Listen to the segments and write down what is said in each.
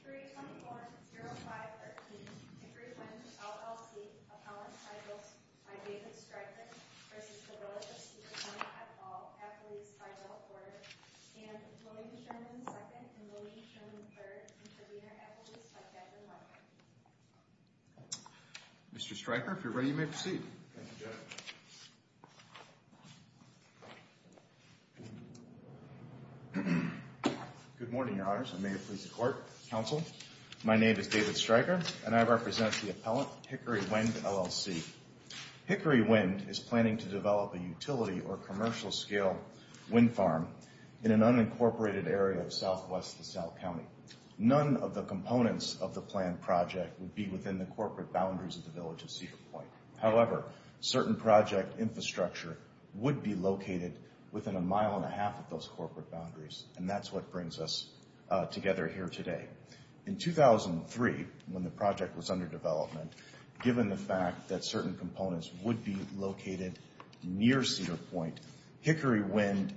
324-0513, Hickory Wind, LLC, Appellant Titles by David Stryker v. Village of Cedar Point Appall, Appellees by Bill Porter and Employee Sherman 2nd and Employee Sherman 3rd, Intervenor Appellees by Kevin Larkin. Mr. Stryker, if you're ready, you may proceed. Thank you, Jeff. Good morning, Your Honors, and may it please the Court, Counsel. My name is David Stryker, and I represent the Appellant, Hickory Wind, LLC. Hickory Wind is planning to develop a utility or commercial-scale wind farm in an unincorporated area of southwest LaSalle County. None of the components of the planned project would be within the corporate boundaries of the Village of Cedar Point. However, certain project infrastructure would be located within a mile and a half of those corporate boundaries, and that's what brings us together here today. In 2003, when the project was under development, given the fact that certain components would be located near Cedar Point, Hickory Wind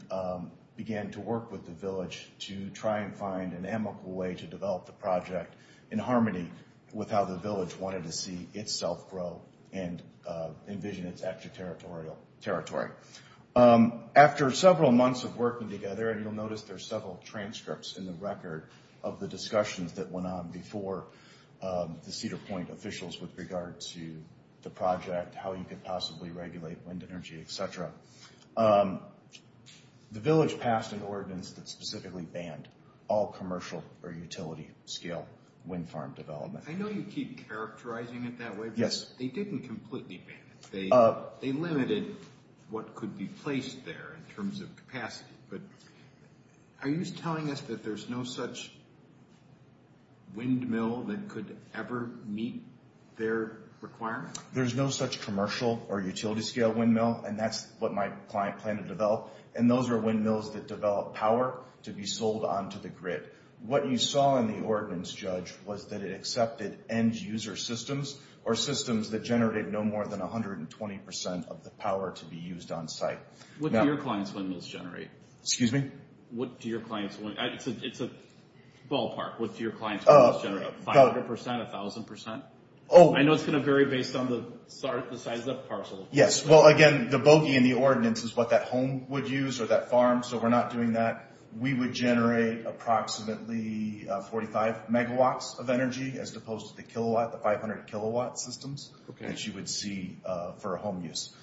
began to work with the Village to try and find an amicable way to develop the project in harmony with how the Village wanted to see itself grow and envision its extraterritorial territory. After several months of working together, and you'll notice there's several transcripts in the record of the discussions that went on before the Cedar Point officials with regard to the project, how you could possibly regulate wind energy, etc., the Village passed an ordinance that specifically banned all commercial or utility-scale wind farm development. I know you keep characterizing it that way, but they didn't completely ban it. They limited what could be placed there in terms of capacity, but are you telling us that there's no such windmill that could ever meet their requirements? There's no such commercial or utility-scale windmill, and that's what my client planned to develop, and those are windmills that develop power to be sold onto the grid. What you saw in the ordinance, Judge, was that it accepted end-user systems or systems that generated no more than 120% of the power to be used on site. What do your clients' windmills generate? Excuse me? It's a ballpark. What do your clients' windmills generate, 500%, 1,000%? I know it's going to vary based on the size of the parcel. Yes, well, again, the bogey in the ordinance is what that home would use or that farm, so we're not doing that. We would generate approximately 45 megawatts of energy as opposed to the kilowatt, the 500 kilowatt systems that you would see for a home use.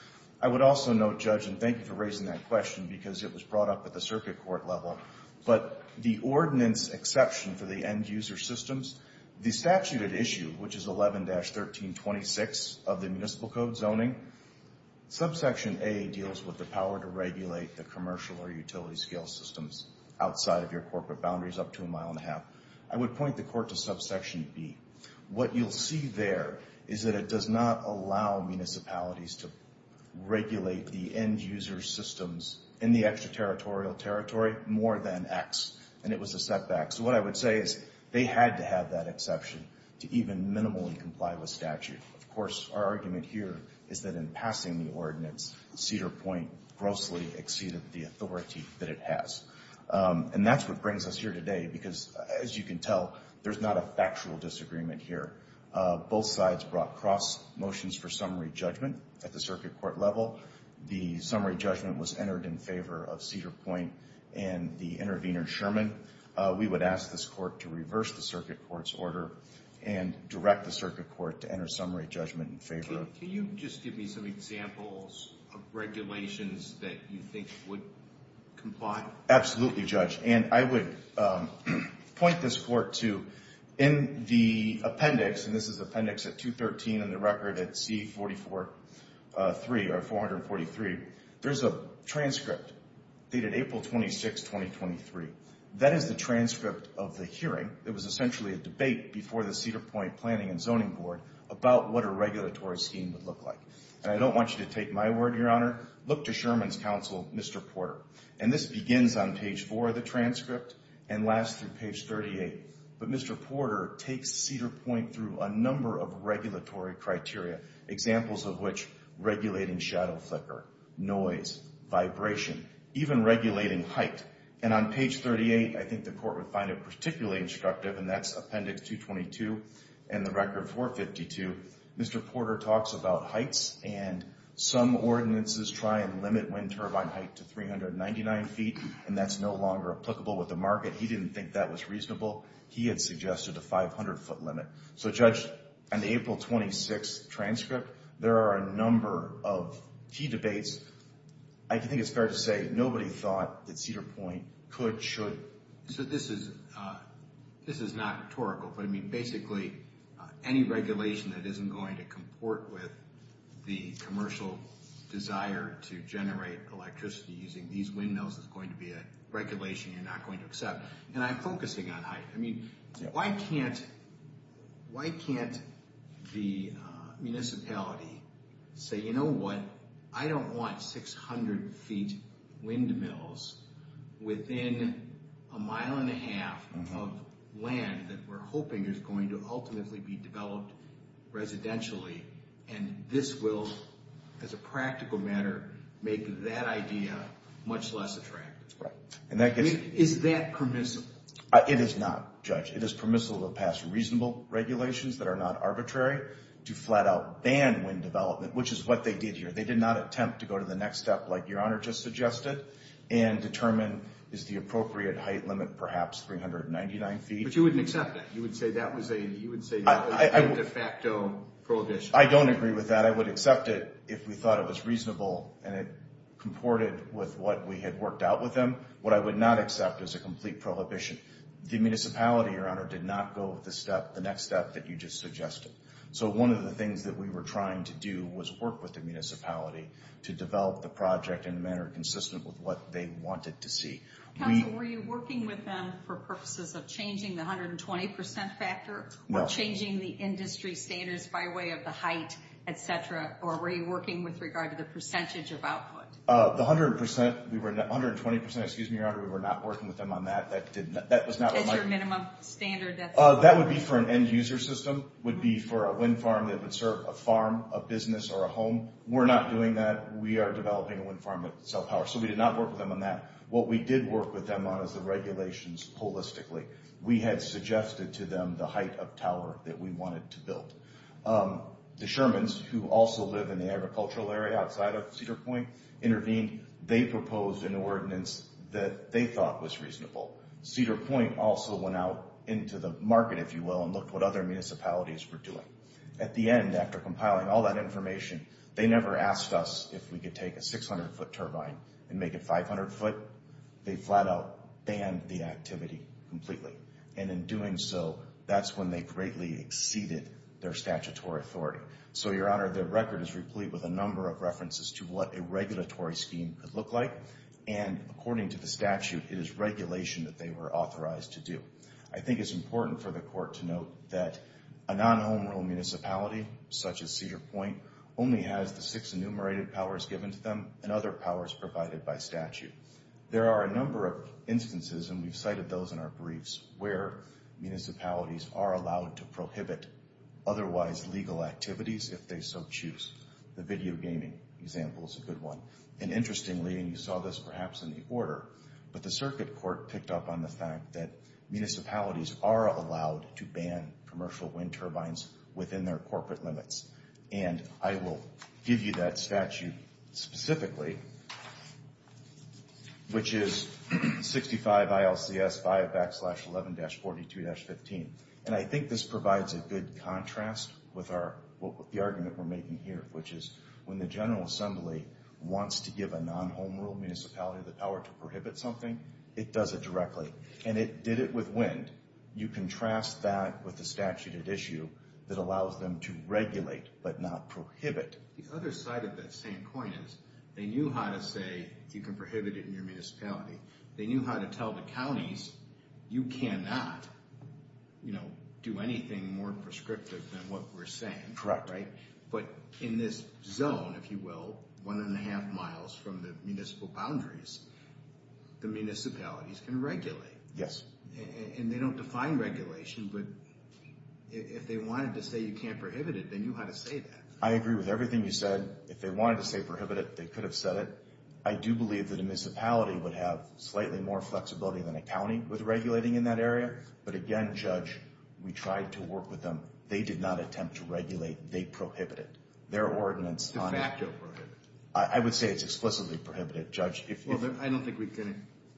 I would also note, Judge, and thank you for raising that question because it was brought up at the circuit court level, but the ordinance exception for the end-user systems, the statute at issue, which is 11-1326 of the municipal code zoning, subsection A deals with the power to regulate the commercial or utility-scale systems outside of your corporate boundaries up to a mile and a half. I would point the court to subsection B. What you'll see there is that it does not allow municipalities to regulate the end-user systems in the extraterritorial territory more than X, and it was a setback. So what I would say is they had to have that exception to even minimally comply with statute. Of course, our argument here is that in passing the ordinance, Cedar Point grossly exceeded the authority that it has. And that's what brings us here today because, as you can tell, there's not a factual disagreement here. Both sides brought cross motions for summary judgment at the circuit court level. The summary judgment was entered in favor of Cedar Point and the intervener, Sherman. We would ask this court to reverse the circuit court's order and direct the circuit court to enter summary judgment in favor of it. Can you just give me some examples of regulations that you think would comply? Absolutely, Judge. And I would point this court to in the appendix, and this is appendix 213 in the record at C443 or 443, there's a transcript dated April 26, 2023. That is the transcript of the hearing. It was essentially a debate before the Cedar Point Planning and Zoning Board about what a regulatory scheme would look like. And I don't want you to take my word, Your Honor. Look to Sherman's counsel, Mr. Porter. And this begins on page 4 of the transcript and lasts through page 38. But Mr. Porter takes Cedar Point through a number of regulatory criteria, examples of which regulating shadow flicker, noise, vibration, even regulating height. And on page 38, I think the court would find it particularly instructive, and that's appendix 222 and the record 452. Mr. Porter talks about heights, and some ordinances try and limit wind turbine height to 399 feet, and that's no longer applicable with the market. He didn't think that was reasonable. He had suggested a 500-foot limit. So, Judge, on the April 26 transcript, there are a number of key debates. I think it's fair to say nobody thought that Cedar Point could, should. So this is not rhetorical, but, I mean, basically any regulation that isn't going to comport with the commercial desire to generate electricity using these windmills is going to be a regulation you're not going to accept. And I'm focusing on height. I mean, why can't the municipality say, you know what, I don't want 600-feet windmills within a mile and a half of land that we're hoping is going to ultimately be developed residentially, and this will, as a practical matter, make that idea much less attractive? Right. Is that permissible? It is not, Judge. It is permissible to pass reasonable regulations that are not arbitrary to flat-out ban wind development, which is what they did here. They did not attempt to go to the next step like Your Honor just suggested and determine, is the appropriate height limit perhaps 399 feet? But you wouldn't accept that. You would say that was a de facto prohibition. I don't agree with that. I would accept it if we thought it was reasonable and it comported with what we had worked out with them. What I would not accept is a complete prohibition. The municipality, Your Honor, did not go with the next step that you just suggested. So one of the things that we were trying to do was work with the municipality to develop the project in a manner consistent with what they wanted to see. Counsel, were you working with them for purposes of changing the 120% factor or changing the industry standards by way of the height, et cetera, or were you working with regard to the percentage of output? The 120%, Your Honor, we were not working with them on that. That was not what my— It's your minimum standard. That would be for an end-user system. It would be for a wind farm that would serve a farm, a business, or a home. We're not doing that. We are developing a wind farm that would sell power. So we did not work with them on that. What we did work with them on is the regulations holistically. We had suggested to them the height of tower that we wanted to build. The Shermans, who also live in the agricultural area outside of Cedar Point, intervened. They proposed an ordinance that they thought was reasonable. Cedar Point also went out into the market, if you will, and looked what other municipalities were doing. At the end, after compiling all that information, they never asked us if we could take a 600-foot turbine and make it 500 foot. They flat-out banned the activity completely. In doing so, that's when they greatly exceeded their statutory authority. Your Honor, the record is replete with a number of references to what a regulatory scheme could look like. According to the statute, it is regulation that they were authorized to do. I think it's important for the Court to note that a non-home-rule municipality, such as Cedar Point, only has the six enumerated powers given to them and other powers provided by statute. There are a number of instances, and we've cited those in our briefs, where municipalities are allowed to prohibit otherwise legal activities if they so choose. The video gaming example is a good one. Interestingly, and you saw this perhaps in the order, but the Circuit Court picked up on the fact that municipalities are allowed to ban commercial wind turbines within their corporate limits. I will give you that statute specifically, which is 65 ILCS 5 backslash 11-42-15. I think this provides a good contrast with the argument we're making here, which is when the General Assembly wants to give a non-home-rule municipality the power to prohibit something, it does it directly, and it did it with wind. You contrast that with the statute at issue that allows them to regulate but not prohibit. The other side of that same coin is they knew how to say you can prohibit it in your municipality. They knew how to tell the counties you cannot do anything more prescriptive than what we're saying. Correct. But in this zone, if you will, one and a half miles from the municipal boundaries, the municipalities can regulate. Yes. And they don't define regulation, but if they wanted to say you can't prohibit it, they knew how to say that. I agree with everything you said. If they wanted to say prohibit it, they could have said it. I do believe that a municipality would have slightly more flexibility than a county with regulating in that area. But again, Judge, we tried to work with them. They did not attempt to regulate. They prohibited. Their ordinance on it. De facto prohibited. I would say it's explicitly prohibited, Judge.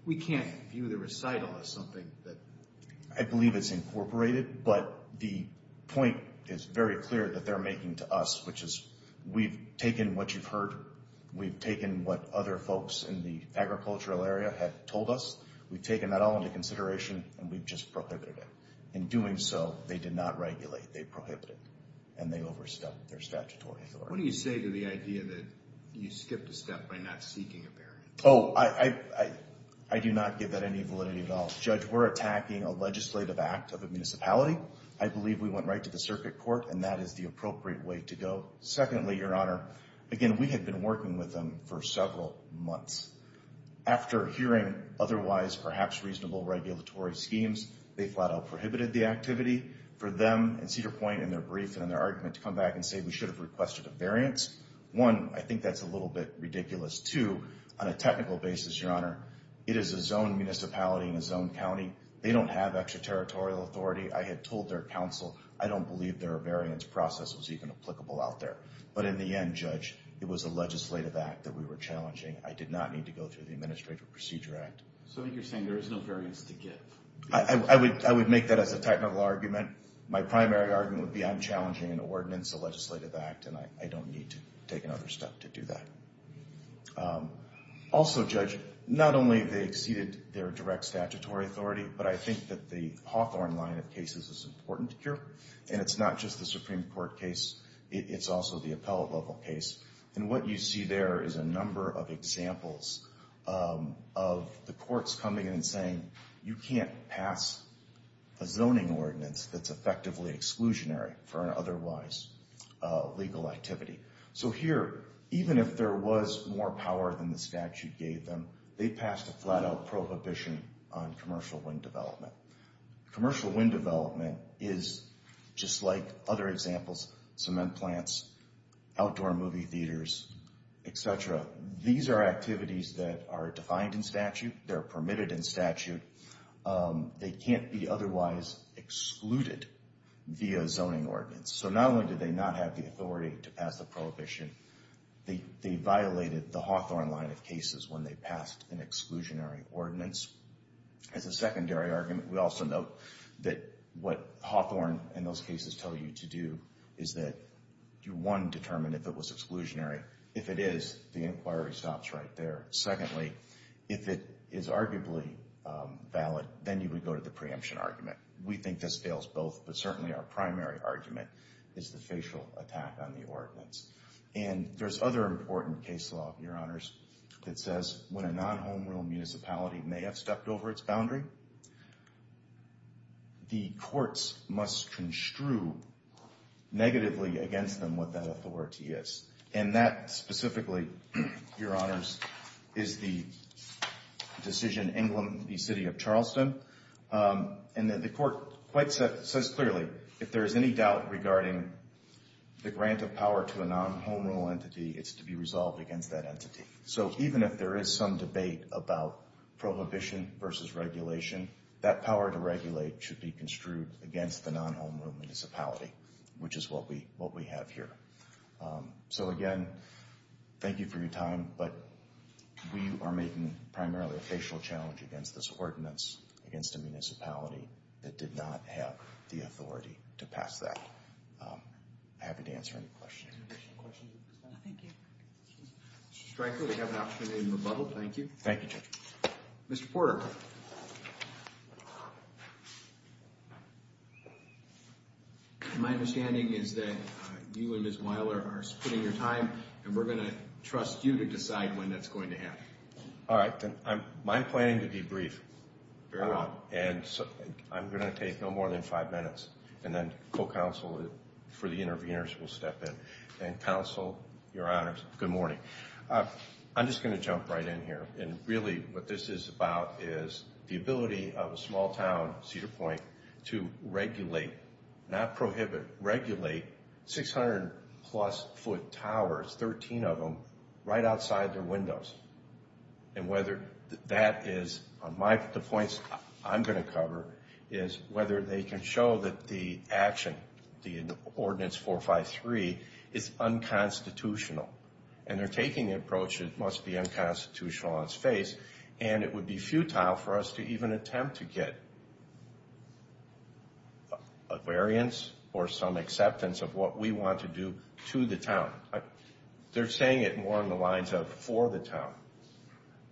We can't view the recital as something that... I believe it's incorporated, but the point is very clear that they're making to us, which is we've taken what you've heard. We've taken what other folks in the agricultural area have told us. We've taken that all into consideration, and we've just prohibited it. In doing so, they did not regulate. They prohibited, and they overstepped their statutory authority. What do you say to the idea that you skipped a step by not seeking a barrier? Oh, I do not give that any validity at all. Judge, we're attacking a legislative act of a municipality. I believe we went right to the circuit court, and that is the appropriate way to go. Secondly, Your Honor, again, we had been working with them for several months. After hearing otherwise perhaps reasonable regulatory schemes, they flat out prohibited the activity. For them and Cedar Point in their brief and in their argument to come back and say we should have requested a variance, one, I think that's a little bit ridiculous. Two, on a technical basis, Your Honor, it is a zoned municipality in a zoned county. They don't have extraterritorial authority. I had told their counsel I don't believe their variance process was even applicable out there. But in the end, Judge, it was a legislative act that we were challenging. I did not need to go through the Administrative Procedure Act. So you're saying there is no variance to give? I would make that as a technical argument. My primary argument would be I'm challenging an ordinance, a legislative act, and I don't need to take another step to do that. Also, Judge, not only have they exceeded their direct statutory authority, but I think that the Hawthorne line of cases is important here. And it's not just the Supreme Court case. It's also the appellate level case. And what you see there is a number of examples of the courts coming in and saying you can't pass a zoning ordinance that's effectively exclusionary for an otherwise legal activity. So here, even if there was more power than the statute gave them, they passed a flat-out prohibition on commercial wind development. Commercial wind development is, just like other examples, cement plants, outdoor movie theaters, et cetera. These are activities that are defined in statute. They're permitted in statute. They can't be otherwise excluded via a zoning ordinance. So not only did they not have the authority to pass the prohibition, they violated the Hawthorne line of cases when they passed an exclusionary ordinance. As a secondary argument, we also note that what Hawthorne and those cases tell you to do is that you, one, determine if it was exclusionary. If it is, the inquiry stops right there. Secondly, if it is arguably valid, then you would go to the preemption argument. We think this fails both, but certainly our primary argument is the facial attack on the ordinance. And there's other important case law, Your Honors, that says when a non-home-rural municipality may have stepped over its boundary, the courts must construe negatively against them what that authority is. And that specifically, Your Honors, is the decision in England v. City of Charleston. And the court quite says clearly, if there is any doubt regarding the grant of power to a non-home-rural entity, it's to be resolved against that entity. So even if there is some debate about prohibition versus regulation, that power to regulate should be construed against the non-home-rural municipality, which is what we have here. So again, thank you for your time. But we are making primarily a facial challenge against this ordinance against a municipality that did not have the authority to pass that. I'm happy to answer any questions. Mr. Stryker, we have an option in rebuttal. Thank you. Thank you, Judge. Mr. Porter. My understanding is that you and Ms. Weiler are splitting your time, and we're going to trust you to decide when that's going to happen. All right. My planning to be brief. And I'm going to take no more than five minutes, and then co-counsel for the interveners will step in. And, counsel, Your Honors, good morning. I'm just going to jump right in here. And really what this is about is the ability of a small town, Cedar Point, to regulate, not prohibit, regulate 600-plus-foot towers, 13 of them, right outside their windows. And whether that is, the points I'm going to cover, is whether they can show that the action, the Ordinance 453, is unconstitutional. And they're taking an approach that must be unconstitutional on its face. And it would be futile for us to even attempt to get a variance or some acceptance of what we want to do to the town. They're saying it more on the lines of for the town.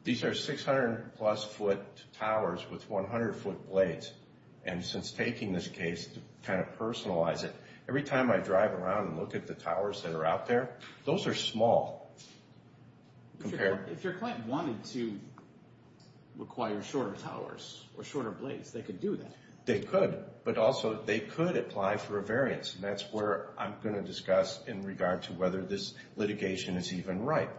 These are 600-plus-foot towers with 100-foot blades. And since taking this case, to kind of personalize it, every time I drive around and look at the towers that are out there, those are small. If your client wanted to require shorter towers or shorter blades, they could do that. They could. But also, they could apply for a variance. And that's where I'm going to discuss in regard to whether this litigation is even right.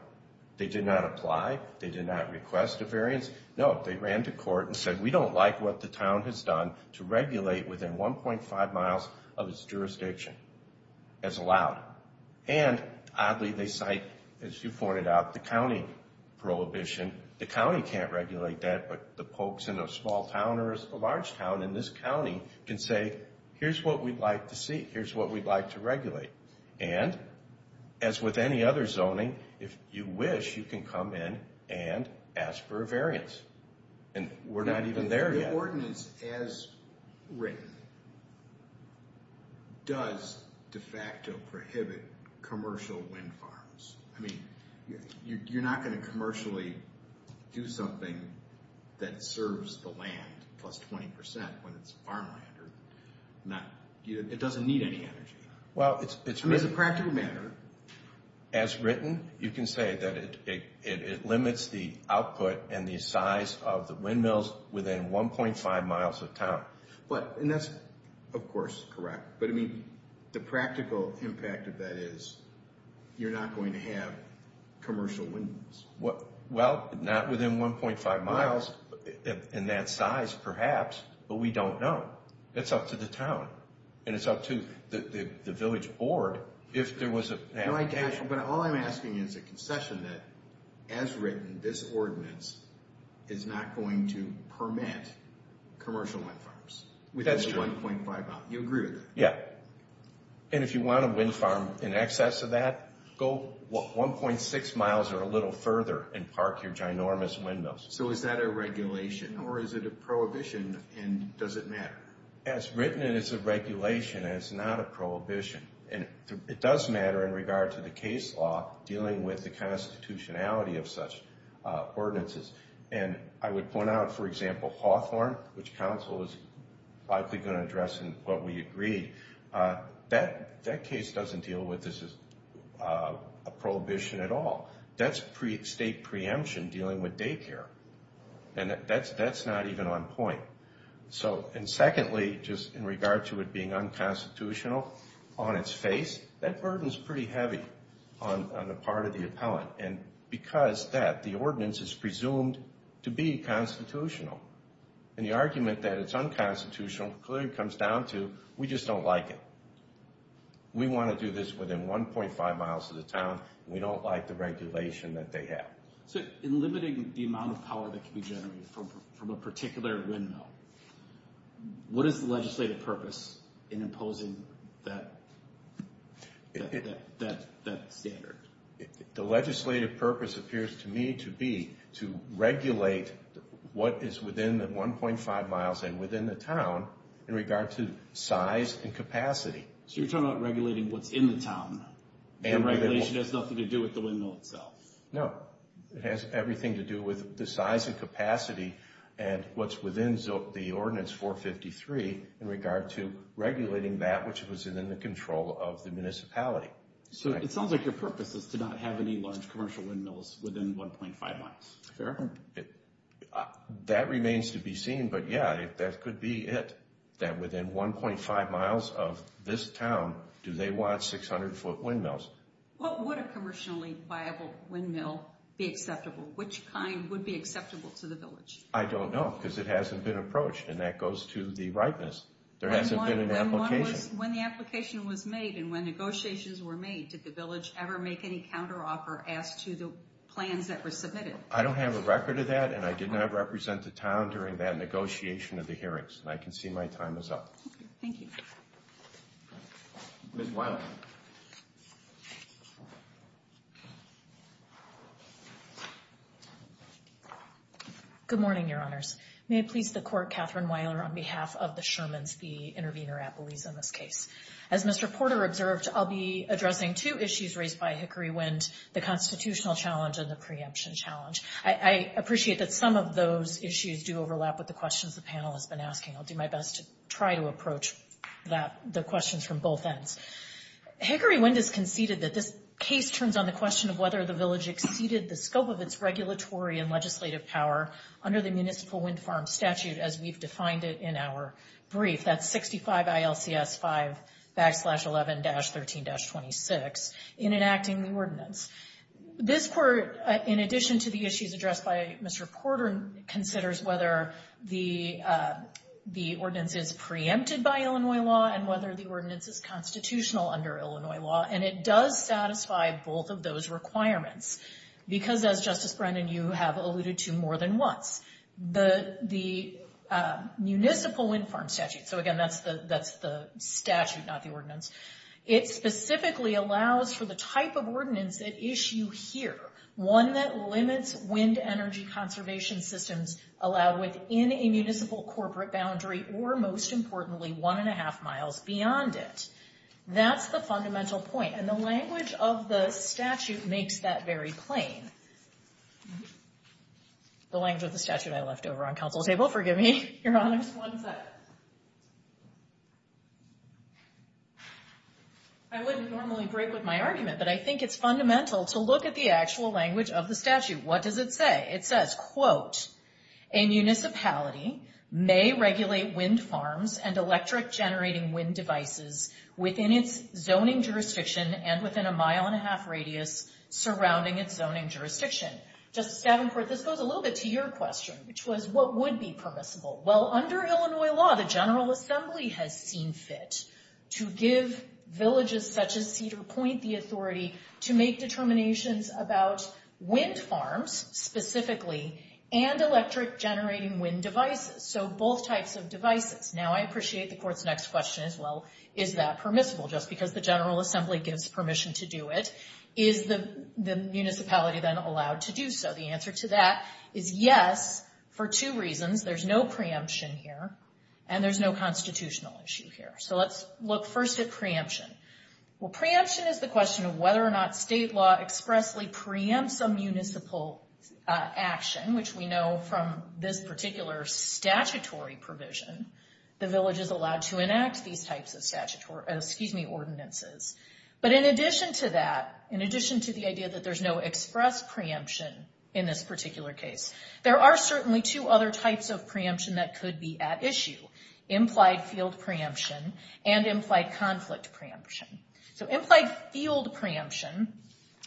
They did not apply. They did not request a variance. No, they ran to court and said, we don't like what the town has done to regulate within 1.5 miles of its jurisdiction as allowed. And, oddly, they cite, as you pointed out, the county prohibition. The county can't regulate that, but the folks in a small town or a large town in this county can say, here's what we'd like to see. Here's what we'd like to regulate. And, as with any other zoning, if you wish, you can come in and ask for a variance. And we're not even there yet. The ordinance, as written, does de facto prohibit commercial wind farms. I mean, you're not going to commercially do something that serves the land plus 20% when it's farmland. It doesn't need any energy. I mean, as a practical matter. As written, you can say that it limits the output and the size of the windmills within 1.5 miles of town. And that's, of course, correct. But, I mean, the practical impact of that is you're not going to have commercial windmills. Well, not within 1.5 miles in that size, perhaps, but we don't know. It's up to the town. And it's up to the village board if there was a... But all I'm asking is a concession that, as written, this ordinance is not going to permit commercial wind farms within 1.5 miles. You agree with that? Yeah. And if you want a wind farm in excess of that, go 1.6 miles or a little further and park your ginormous windmills. So is that a regulation or is it a prohibition and does it matter? As written, it is a regulation and it's not a prohibition. And it does matter in regard to the case law dealing with the constitutionality of such ordinances. And I would point out, for example, Hawthorne, which council is likely going to address in what we agreed, that case doesn't deal with this as a prohibition at all. That's state preemption dealing with daycare. And that's not even on point. And secondly, just in regard to it being unconstitutional on its face, that burden is pretty heavy on the part of the appellant. And because of that, the ordinance is presumed to be constitutional. And the argument that it's unconstitutional clearly comes down to we just don't like it. We want to do this within 1.5 miles of the town. We don't like the regulation that they have. So in limiting the amount of power that can be generated from a particular windmill, what is the legislative purpose in imposing that standard? The legislative purpose appears to me to be to regulate what is within the 1.5 miles and within the town in regard to size and capacity. So you're talking about regulating what's in the town. And regulation has nothing to do with the windmill itself. No. It has everything to do with the size and capacity and what's within the ordinance 453 in regard to regulating that which was in the control of the municipality. So it sounds like your purpose is to not have any large commercial windmills within 1.5 miles. Fair. That remains to be seen. But, yeah, that could be it, that within 1.5 miles of this town do they want 600-foot windmills. What would a commercially viable windmill be acceptable? Which kind would be acceptable to the village? I don't know because it hasn't been approached. And that goes to the rightness. There hasn't been an application. When the application was made and when negotiations were made, did the village ever make any counteroffer as to the plans that were submitted? I don't have a record of that, and I did not represent the town during that negotiation of the hearings. And I can see my time is up. Okay. Thank you. Ms. Weiler. Good morning, Your Honors. May it please the Court, Catherine Weiler on behalf of the Shermans v. Intervenor-Appalooza in this case. As Mr. Porter observed, I'll be addressing two issues raised by Hickory Wind, the constitutional challenge and the preemption challenge. I appreciate that some of those issues do overlap with the questions the panel has been asking. I'll do my best to try to approach the questions from both ends. Hickory Wind has conceded that this case turns on the question of whether the village exceeded the scope of its regulatory and legislative power under the municipal wind farm statute as we've defined it in our brief, that's 65 ILCS 5 backslash 11 dash 13 dash 26, in enacting the ordinance. This Court, in addition to the issues addressed by Mr. Porter, considers whether the ordinance is preempted by Illinois law and whether the ordinance is constitutional under Illinois law. And it does satisfy both of those requirements because, as Justice Brennan, you have alluded to more than once, the municipal wind farm statute, so again, that's the statute, not the ordinance, it specifically allows for the type of ordinance at issue here, one that limits wind energy conservation systems allowed within a municipal corporate boundary or, most importantly, one and a half miles beyond it. That's the fundamental point, and the language of the statute makes that very plain. The language of the statute I left over on counsel's table, forgive me, Your Honor. Just one second. I wouldn't normally break with my argument, but I think it's fundamental to look at the actual language of the statute. What does it say? It says, quote, a municipality may regulate wind farms and electric generating wind devices within its zoning jurisdiction and within a mile and a half radius surrounding its zoning jurisdiction. Justice Davenport, this goes a little bit to your question, which was, what would be permissible? Well, under Illinois law, the General Assembly has seen fit to give villages such as Cedar Point the authority to make determinations about wind farms specifically and electric generating wind devices, so both types of devices. Now, I appreciate the Court's next question as well, is that permissible, just because the General Assembly gives permission to do it. Is the municipality then allowed to do so? The answer to that is yes, for two reasons. There's no preemption here, and there's no constitutional issue here. So let's look first at preemption. Well, preemption is the question of whether or not state law expressly preempts a municipal action, which we know from this particular statutory provision, the village is allowed to enact these types of ordinances. But in addition to that, in addition to the idea that there's no express preemption in this particular case, there are certainly two other types of preemption that could be at issue, implied field preemption and implied conflict preemption. So implied field preemption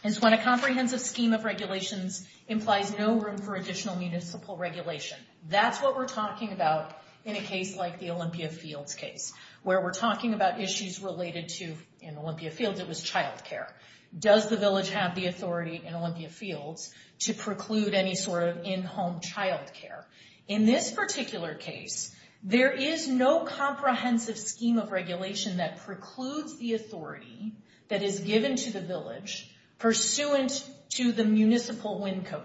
is when a comprehensive scheme of regulations implies no room for additional municipal regulation. That's what we're talking about in a case like the Olympia Fields case, where we're talking about issues related to, in Olympia Fields it was childcare. Does the village have the authority in Olympia Fields to preclude any sort of in-home childcare? In this particular case, there is no comprehensive scheme of regulation that precludes the authority that is given to the village pursuant to the municipal wind farm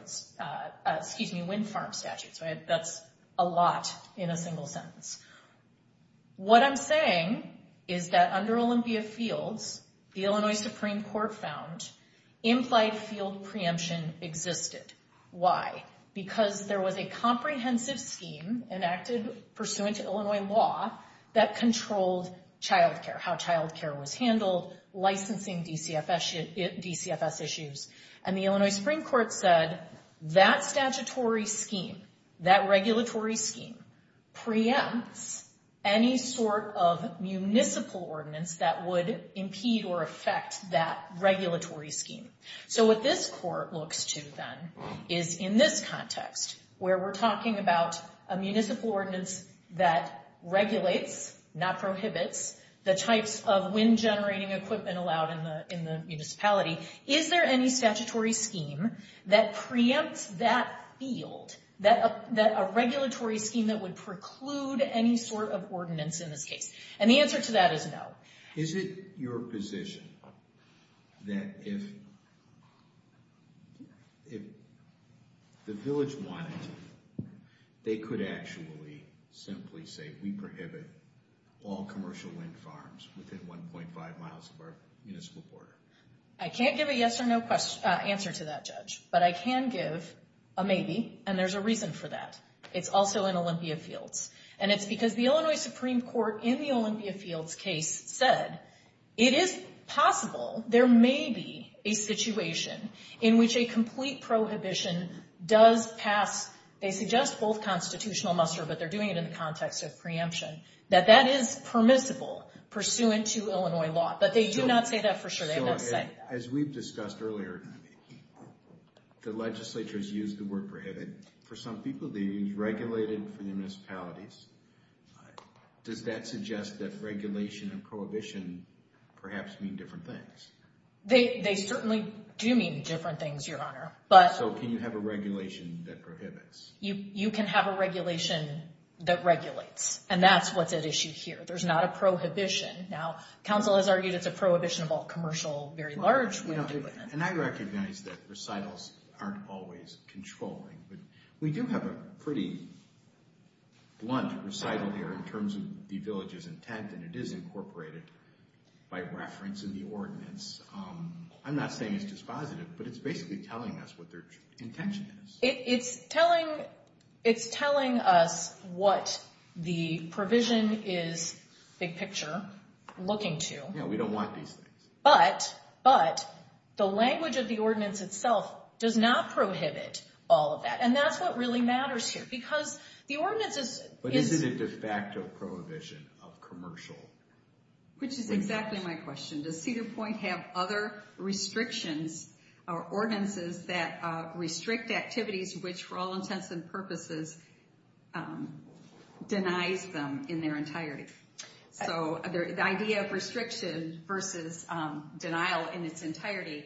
statutes. That's a lot in a single sentence. What I'm saying is that under Olympia Fields, the Illinois Supreme Court found implied field preemption existed. Why? Because there was a comprehensive scheme enacted pursuant to Illinois law that controlled childcare, how childcare was handled, licensing DCFS issues. And the Illinois Supreme Court said that statutory scheme, that regulatory scheme, preempts any sort of municipal ordinance that would impede or affect that regulatory scheme. So what this court looks to then is in this context, where we're talking about a municipal ordinance that regulates, not prohibits, the types of wind generating equipment allowed in the municipality. Is there any statutory scheme that preempts that field, a regulatory scheme that would preclude any sort of ordinance in this case? And the answer to that is no. Is it your position that if the village wanted to, they could actually simply say we prohibit all commercial wind farms within 1.5 miles of our municipal border? I can't give a yes or no answer to that, Judge. But I can give a maybe, and there's a reason for that. It's also in Olympia Fields. And it's because the Illinois Supreme Court in the Olympia Fields case said it is possible there may be a situation in which a complete prohibition does pass. They suggest both constitutional muster, but they're doing it in the context of preemption, that that is permissible pursuant to Illinois law. But they do not say that for sure. They don't say that. As we've discussed earlier, the legislature has used the word prohibit. For some people, they use regulated for the municipalities. Does that suggest that regulation and prohibition perhaps mean different things? They certainly do mean different things, Your Honor. So can you have a regulation that prohibits? You can have a regulation that regulates, and that's what's at issue here. There's not a prohibition. Now, counsel has argued it's a prohibition of all commercial, very large land development. And I recognize that recitals aren't always controlling, but we do have a pretty blunt recital here in terms of the village's intent, and it is incorporated by reference in the ordinance. I'm not saying it's dispositive, but it's basically telling us what their intention is. It's telling us what the provision is, big picture, looking to. Yeah, we don't want these things. But the language of the ordinance itself does not prohibit all of that, and that's what really matters here because the ordinance is... But isn't it de facto prohibition of commercial? Which is exactly my question. Does Cedar Point have other restrictions or ordinances that restrict activities, which for all intents and purposes denies them in their entirety? So the idea of restriction versus denial in its entirety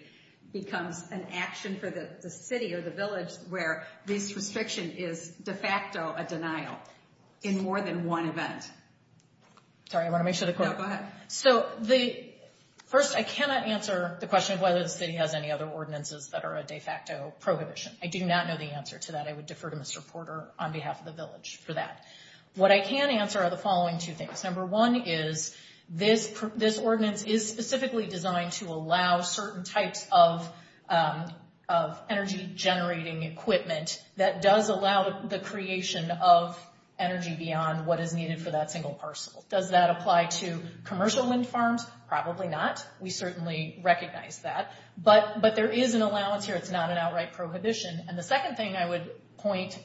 becomes an action for the city or the village where this restriction is de facto a denial in more than one event. Sorry, I want to make sure the court... First, I cannot answer the question of whether the city has any other ordinances that are a de facto prohibition. I do not know the answer to that. I would defer to Mr. Porter on behalf of the village for that. What I can answer are the following two things. Number one is this ordinance is specifically designed to allow certain types of energy generating equipment that does allow the creation of energy beyond what is needed for that single parcel. Does that apply to commercial wind farms? Probably not. We certainly recognize that. But there is an allowance here. It's not an outright prohibition. And the second thing I would point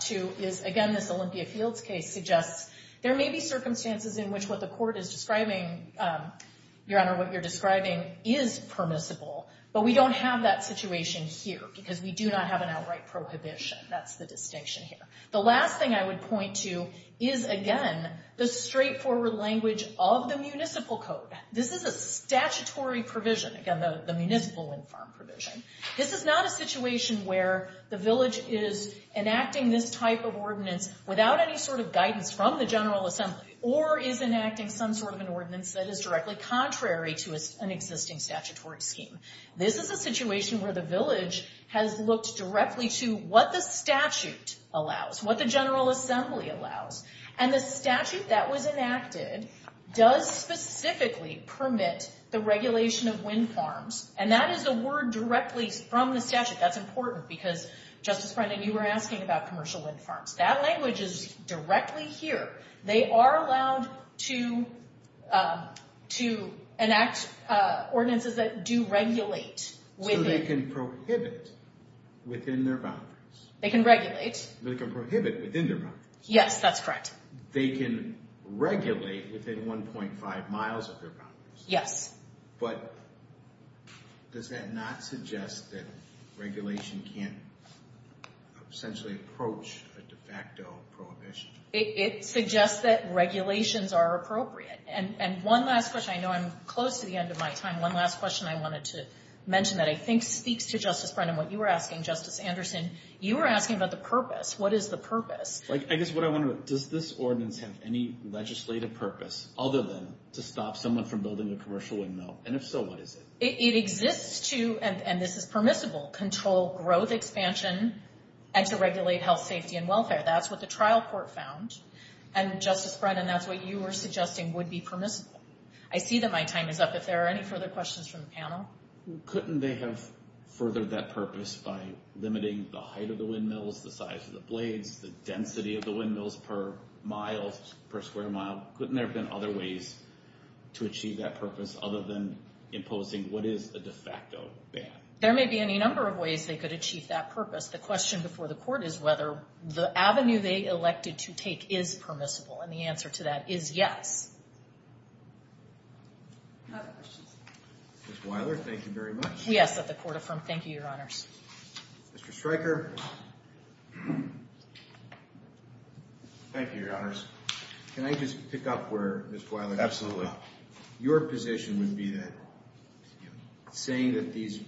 to is, again, this Olympia Fields case suggests there may be circumstances in which what the court is describing, Your Honor, what you're describing is permissible. But we don't have that situation here because we do not have an outright prohibition. That's the distinction here. The last thing I would point to is, again, the straightforward language of the municipal code. This is a statutory provision, again, the municipal wind farm provision. This is not a situation where the village is enacting this type of ordinance without any sort of guidance from the General Assembly or is enacting some sort of an ordinance that is directly contrary to an existing statutory scheme. This is a situation where the village has looked directly to what the statute allows, what the General Assembly allows. And the statute that was enacted does specifically permit the regulation of wind farms. And that is a word directly from the statute. That's important because, Justice Brendan, you were asking about commercial wind farms. That language is directly here. They are allowed to enact ordinances that do regulate. So they can prohibit within their boundaries. They can regulate. They can prohibit within their boundaries. Yes, that's correct. They can regulate within 1.5 miles of their boundaries. Yes. But does that not suggest that regulation can't essentially approach a de facto prohibition? It suggests that regulations are appropriate. And one last question. I know I'm close to the end of my time. One last question I wanted to mention that I think speaks to, Justice Brendan, what you were asking, Justice Anderson. You were asking about the purpose. What is the purpose? I guess what I want to know, does this ordinance have any legislative purpose other than to stop someone from building a commercial windmill? And if so, what is it? It exists to, and this is permissible, control growth expansion and to regulate health, safety, and welfare. That's what the trial court found. And, Justice Brendan, that's what you were suggesting would be permissible. I see that my time is up. If there are any further questions from the panel. Couldn't they have furthered that purpose by limiting the height of the windmills, the size of the blades, the density of the windmills per square mile? Couldn't there have been other ways to achieve that purpose other than imposing what is a de facto ban? There may be any number of ways they could achieve that purpose. The question before the court is whether the avenue they elected to take is permissible, and the answer to that is yes. Other questions? Ms. Wyler, thank you very much. We ask that the court affirm. Thank you, Your Honors. Mr. Stryker. Thank you, Your Honors. Can I just pick up where Ms. Wyler left off? Absolutely. Your position would be that saying that these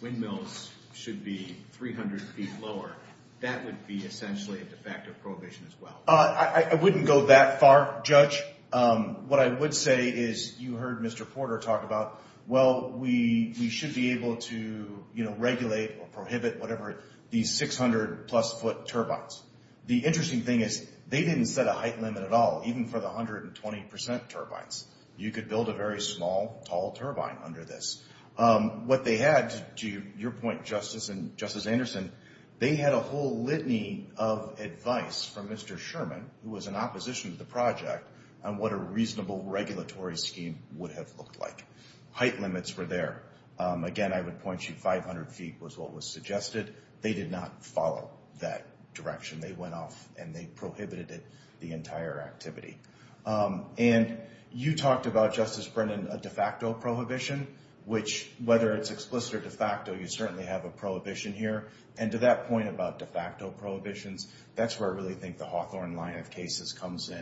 windmills should be 300 feet lower, that would be essentially a de facto prohibition as well. I wouldn't go that far, Judge. What I would say is you heard Mr. Porter talk about, well, we should be able to regulate or prohibit whatever these 600 plus foot turbines. The interesting thing is they didn't set a height limit at all, even for the 120 percent turbines. You could build a very small, tall turbine under this. What they had, to your point, Justice, and Justice Anderson, they had a whole litany of advice from Mr. Sherman, who was in opposition to the project, on what a reasonable regulatory scheme would have looked like. Height limits were there. Again, I would point you 500 feet was what was suggested. They did not follow that direction. They went off and they prohibited it, the entire activity. And you talked about, Justice Brennan, a de facto prohibition, which whether it's explicit or de facto, you certainly have a prohibition here. And to that point about de facto prohibitions, that's where I really think the Hawthorne line of cases comes in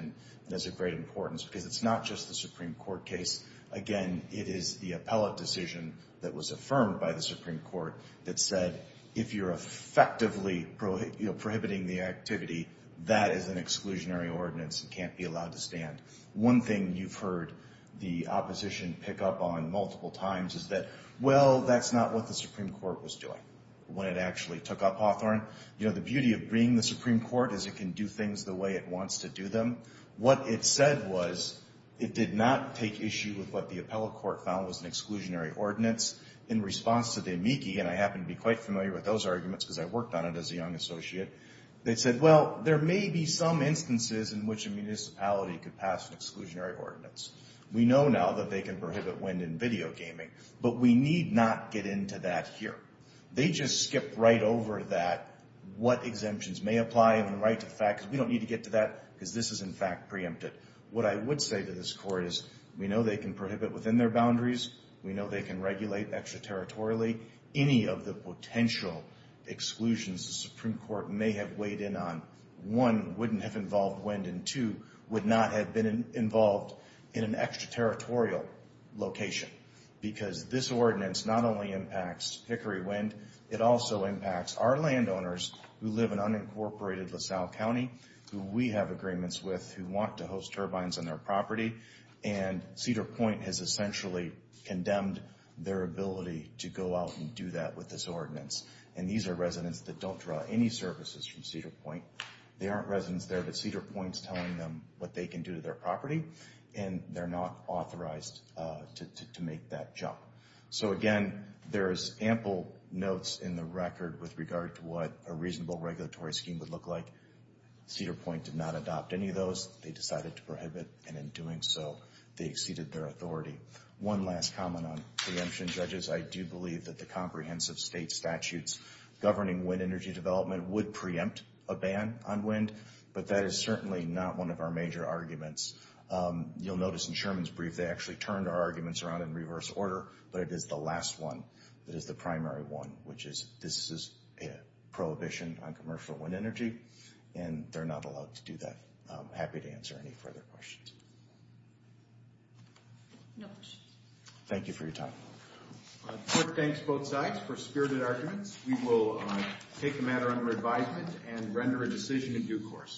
and is of great importance because it's not just the Supreme Court case. Again, it is the appellate decision that was affirmed by the Supreme Court that said if you're effectively prohibiting the activity, that is an exclusionary ordinance and can't be allowed to stand. One thing you've heard the opposition pick up on multiple times is that, well, that's not what the Supreme Court was doing when it actually took up Hawthorne. The beauty of being the Supreme Court is it can do things the way it wants to do them. What it said was it did not take issue with what the appellate court found was an exclusionary ordinance. In response to the amici, and I happen to be quite familiar with those arguments because I worked on it as a young associate, they said, well, there may be some instances in which a municipality could pass an exclusionary ordinance. We know now that they can prohibit wind and video gaming, but we need not get into that here. They just skipped right over that, what exemptions may apply and right to the fact, because we don't need to get to that because this is, in fact, preempted. What I would say to this Court is we know they can prohibit within their boundaries. We know they can regulate extraterritorially. Any of the potential exclusions the Supreme Court may have weighed in on, one, wouldn't have involved wind, and two, would not have been involved in an extraterritorial location because this ordinance not only impacts Hickory Wind, it also impacts our landowners who live in unincorporated LaSalle County, who we have agreements with who want to host turbines on their property, and Cedar Point has essentially condemned their ability to go out and do that with this ordinance. And these are residents that don't draw any services from Cedar Point. They aren't residents there, but Cedar Point's telling them what they can do to their property, and they're not authorized to make that jump. So, again, there's ample notes in the record with regard to what a reasonable regulatory scheme would look like. Cedar Point did not adopt any of those. They decided to prohibit, and in doing so, they exceeded their authority. One last comment on preemption, judges. I do believe that the comprehensive state statutes governing wind energy development would preempt a ban on wind, but that is certainly not one of our major arguments. You'll notice in Sherman's brief they actually turned our arguments around in reverse order, but it is the last one that is the primary one, which is this is a prohibition on commercial wind energy, and they're not allowed to do that. I'm happy to answer any further questions. No questions. Thank you for your time. Court thanks both sides for spirited arguments. We will take a matter under advisement and render a decision in due course.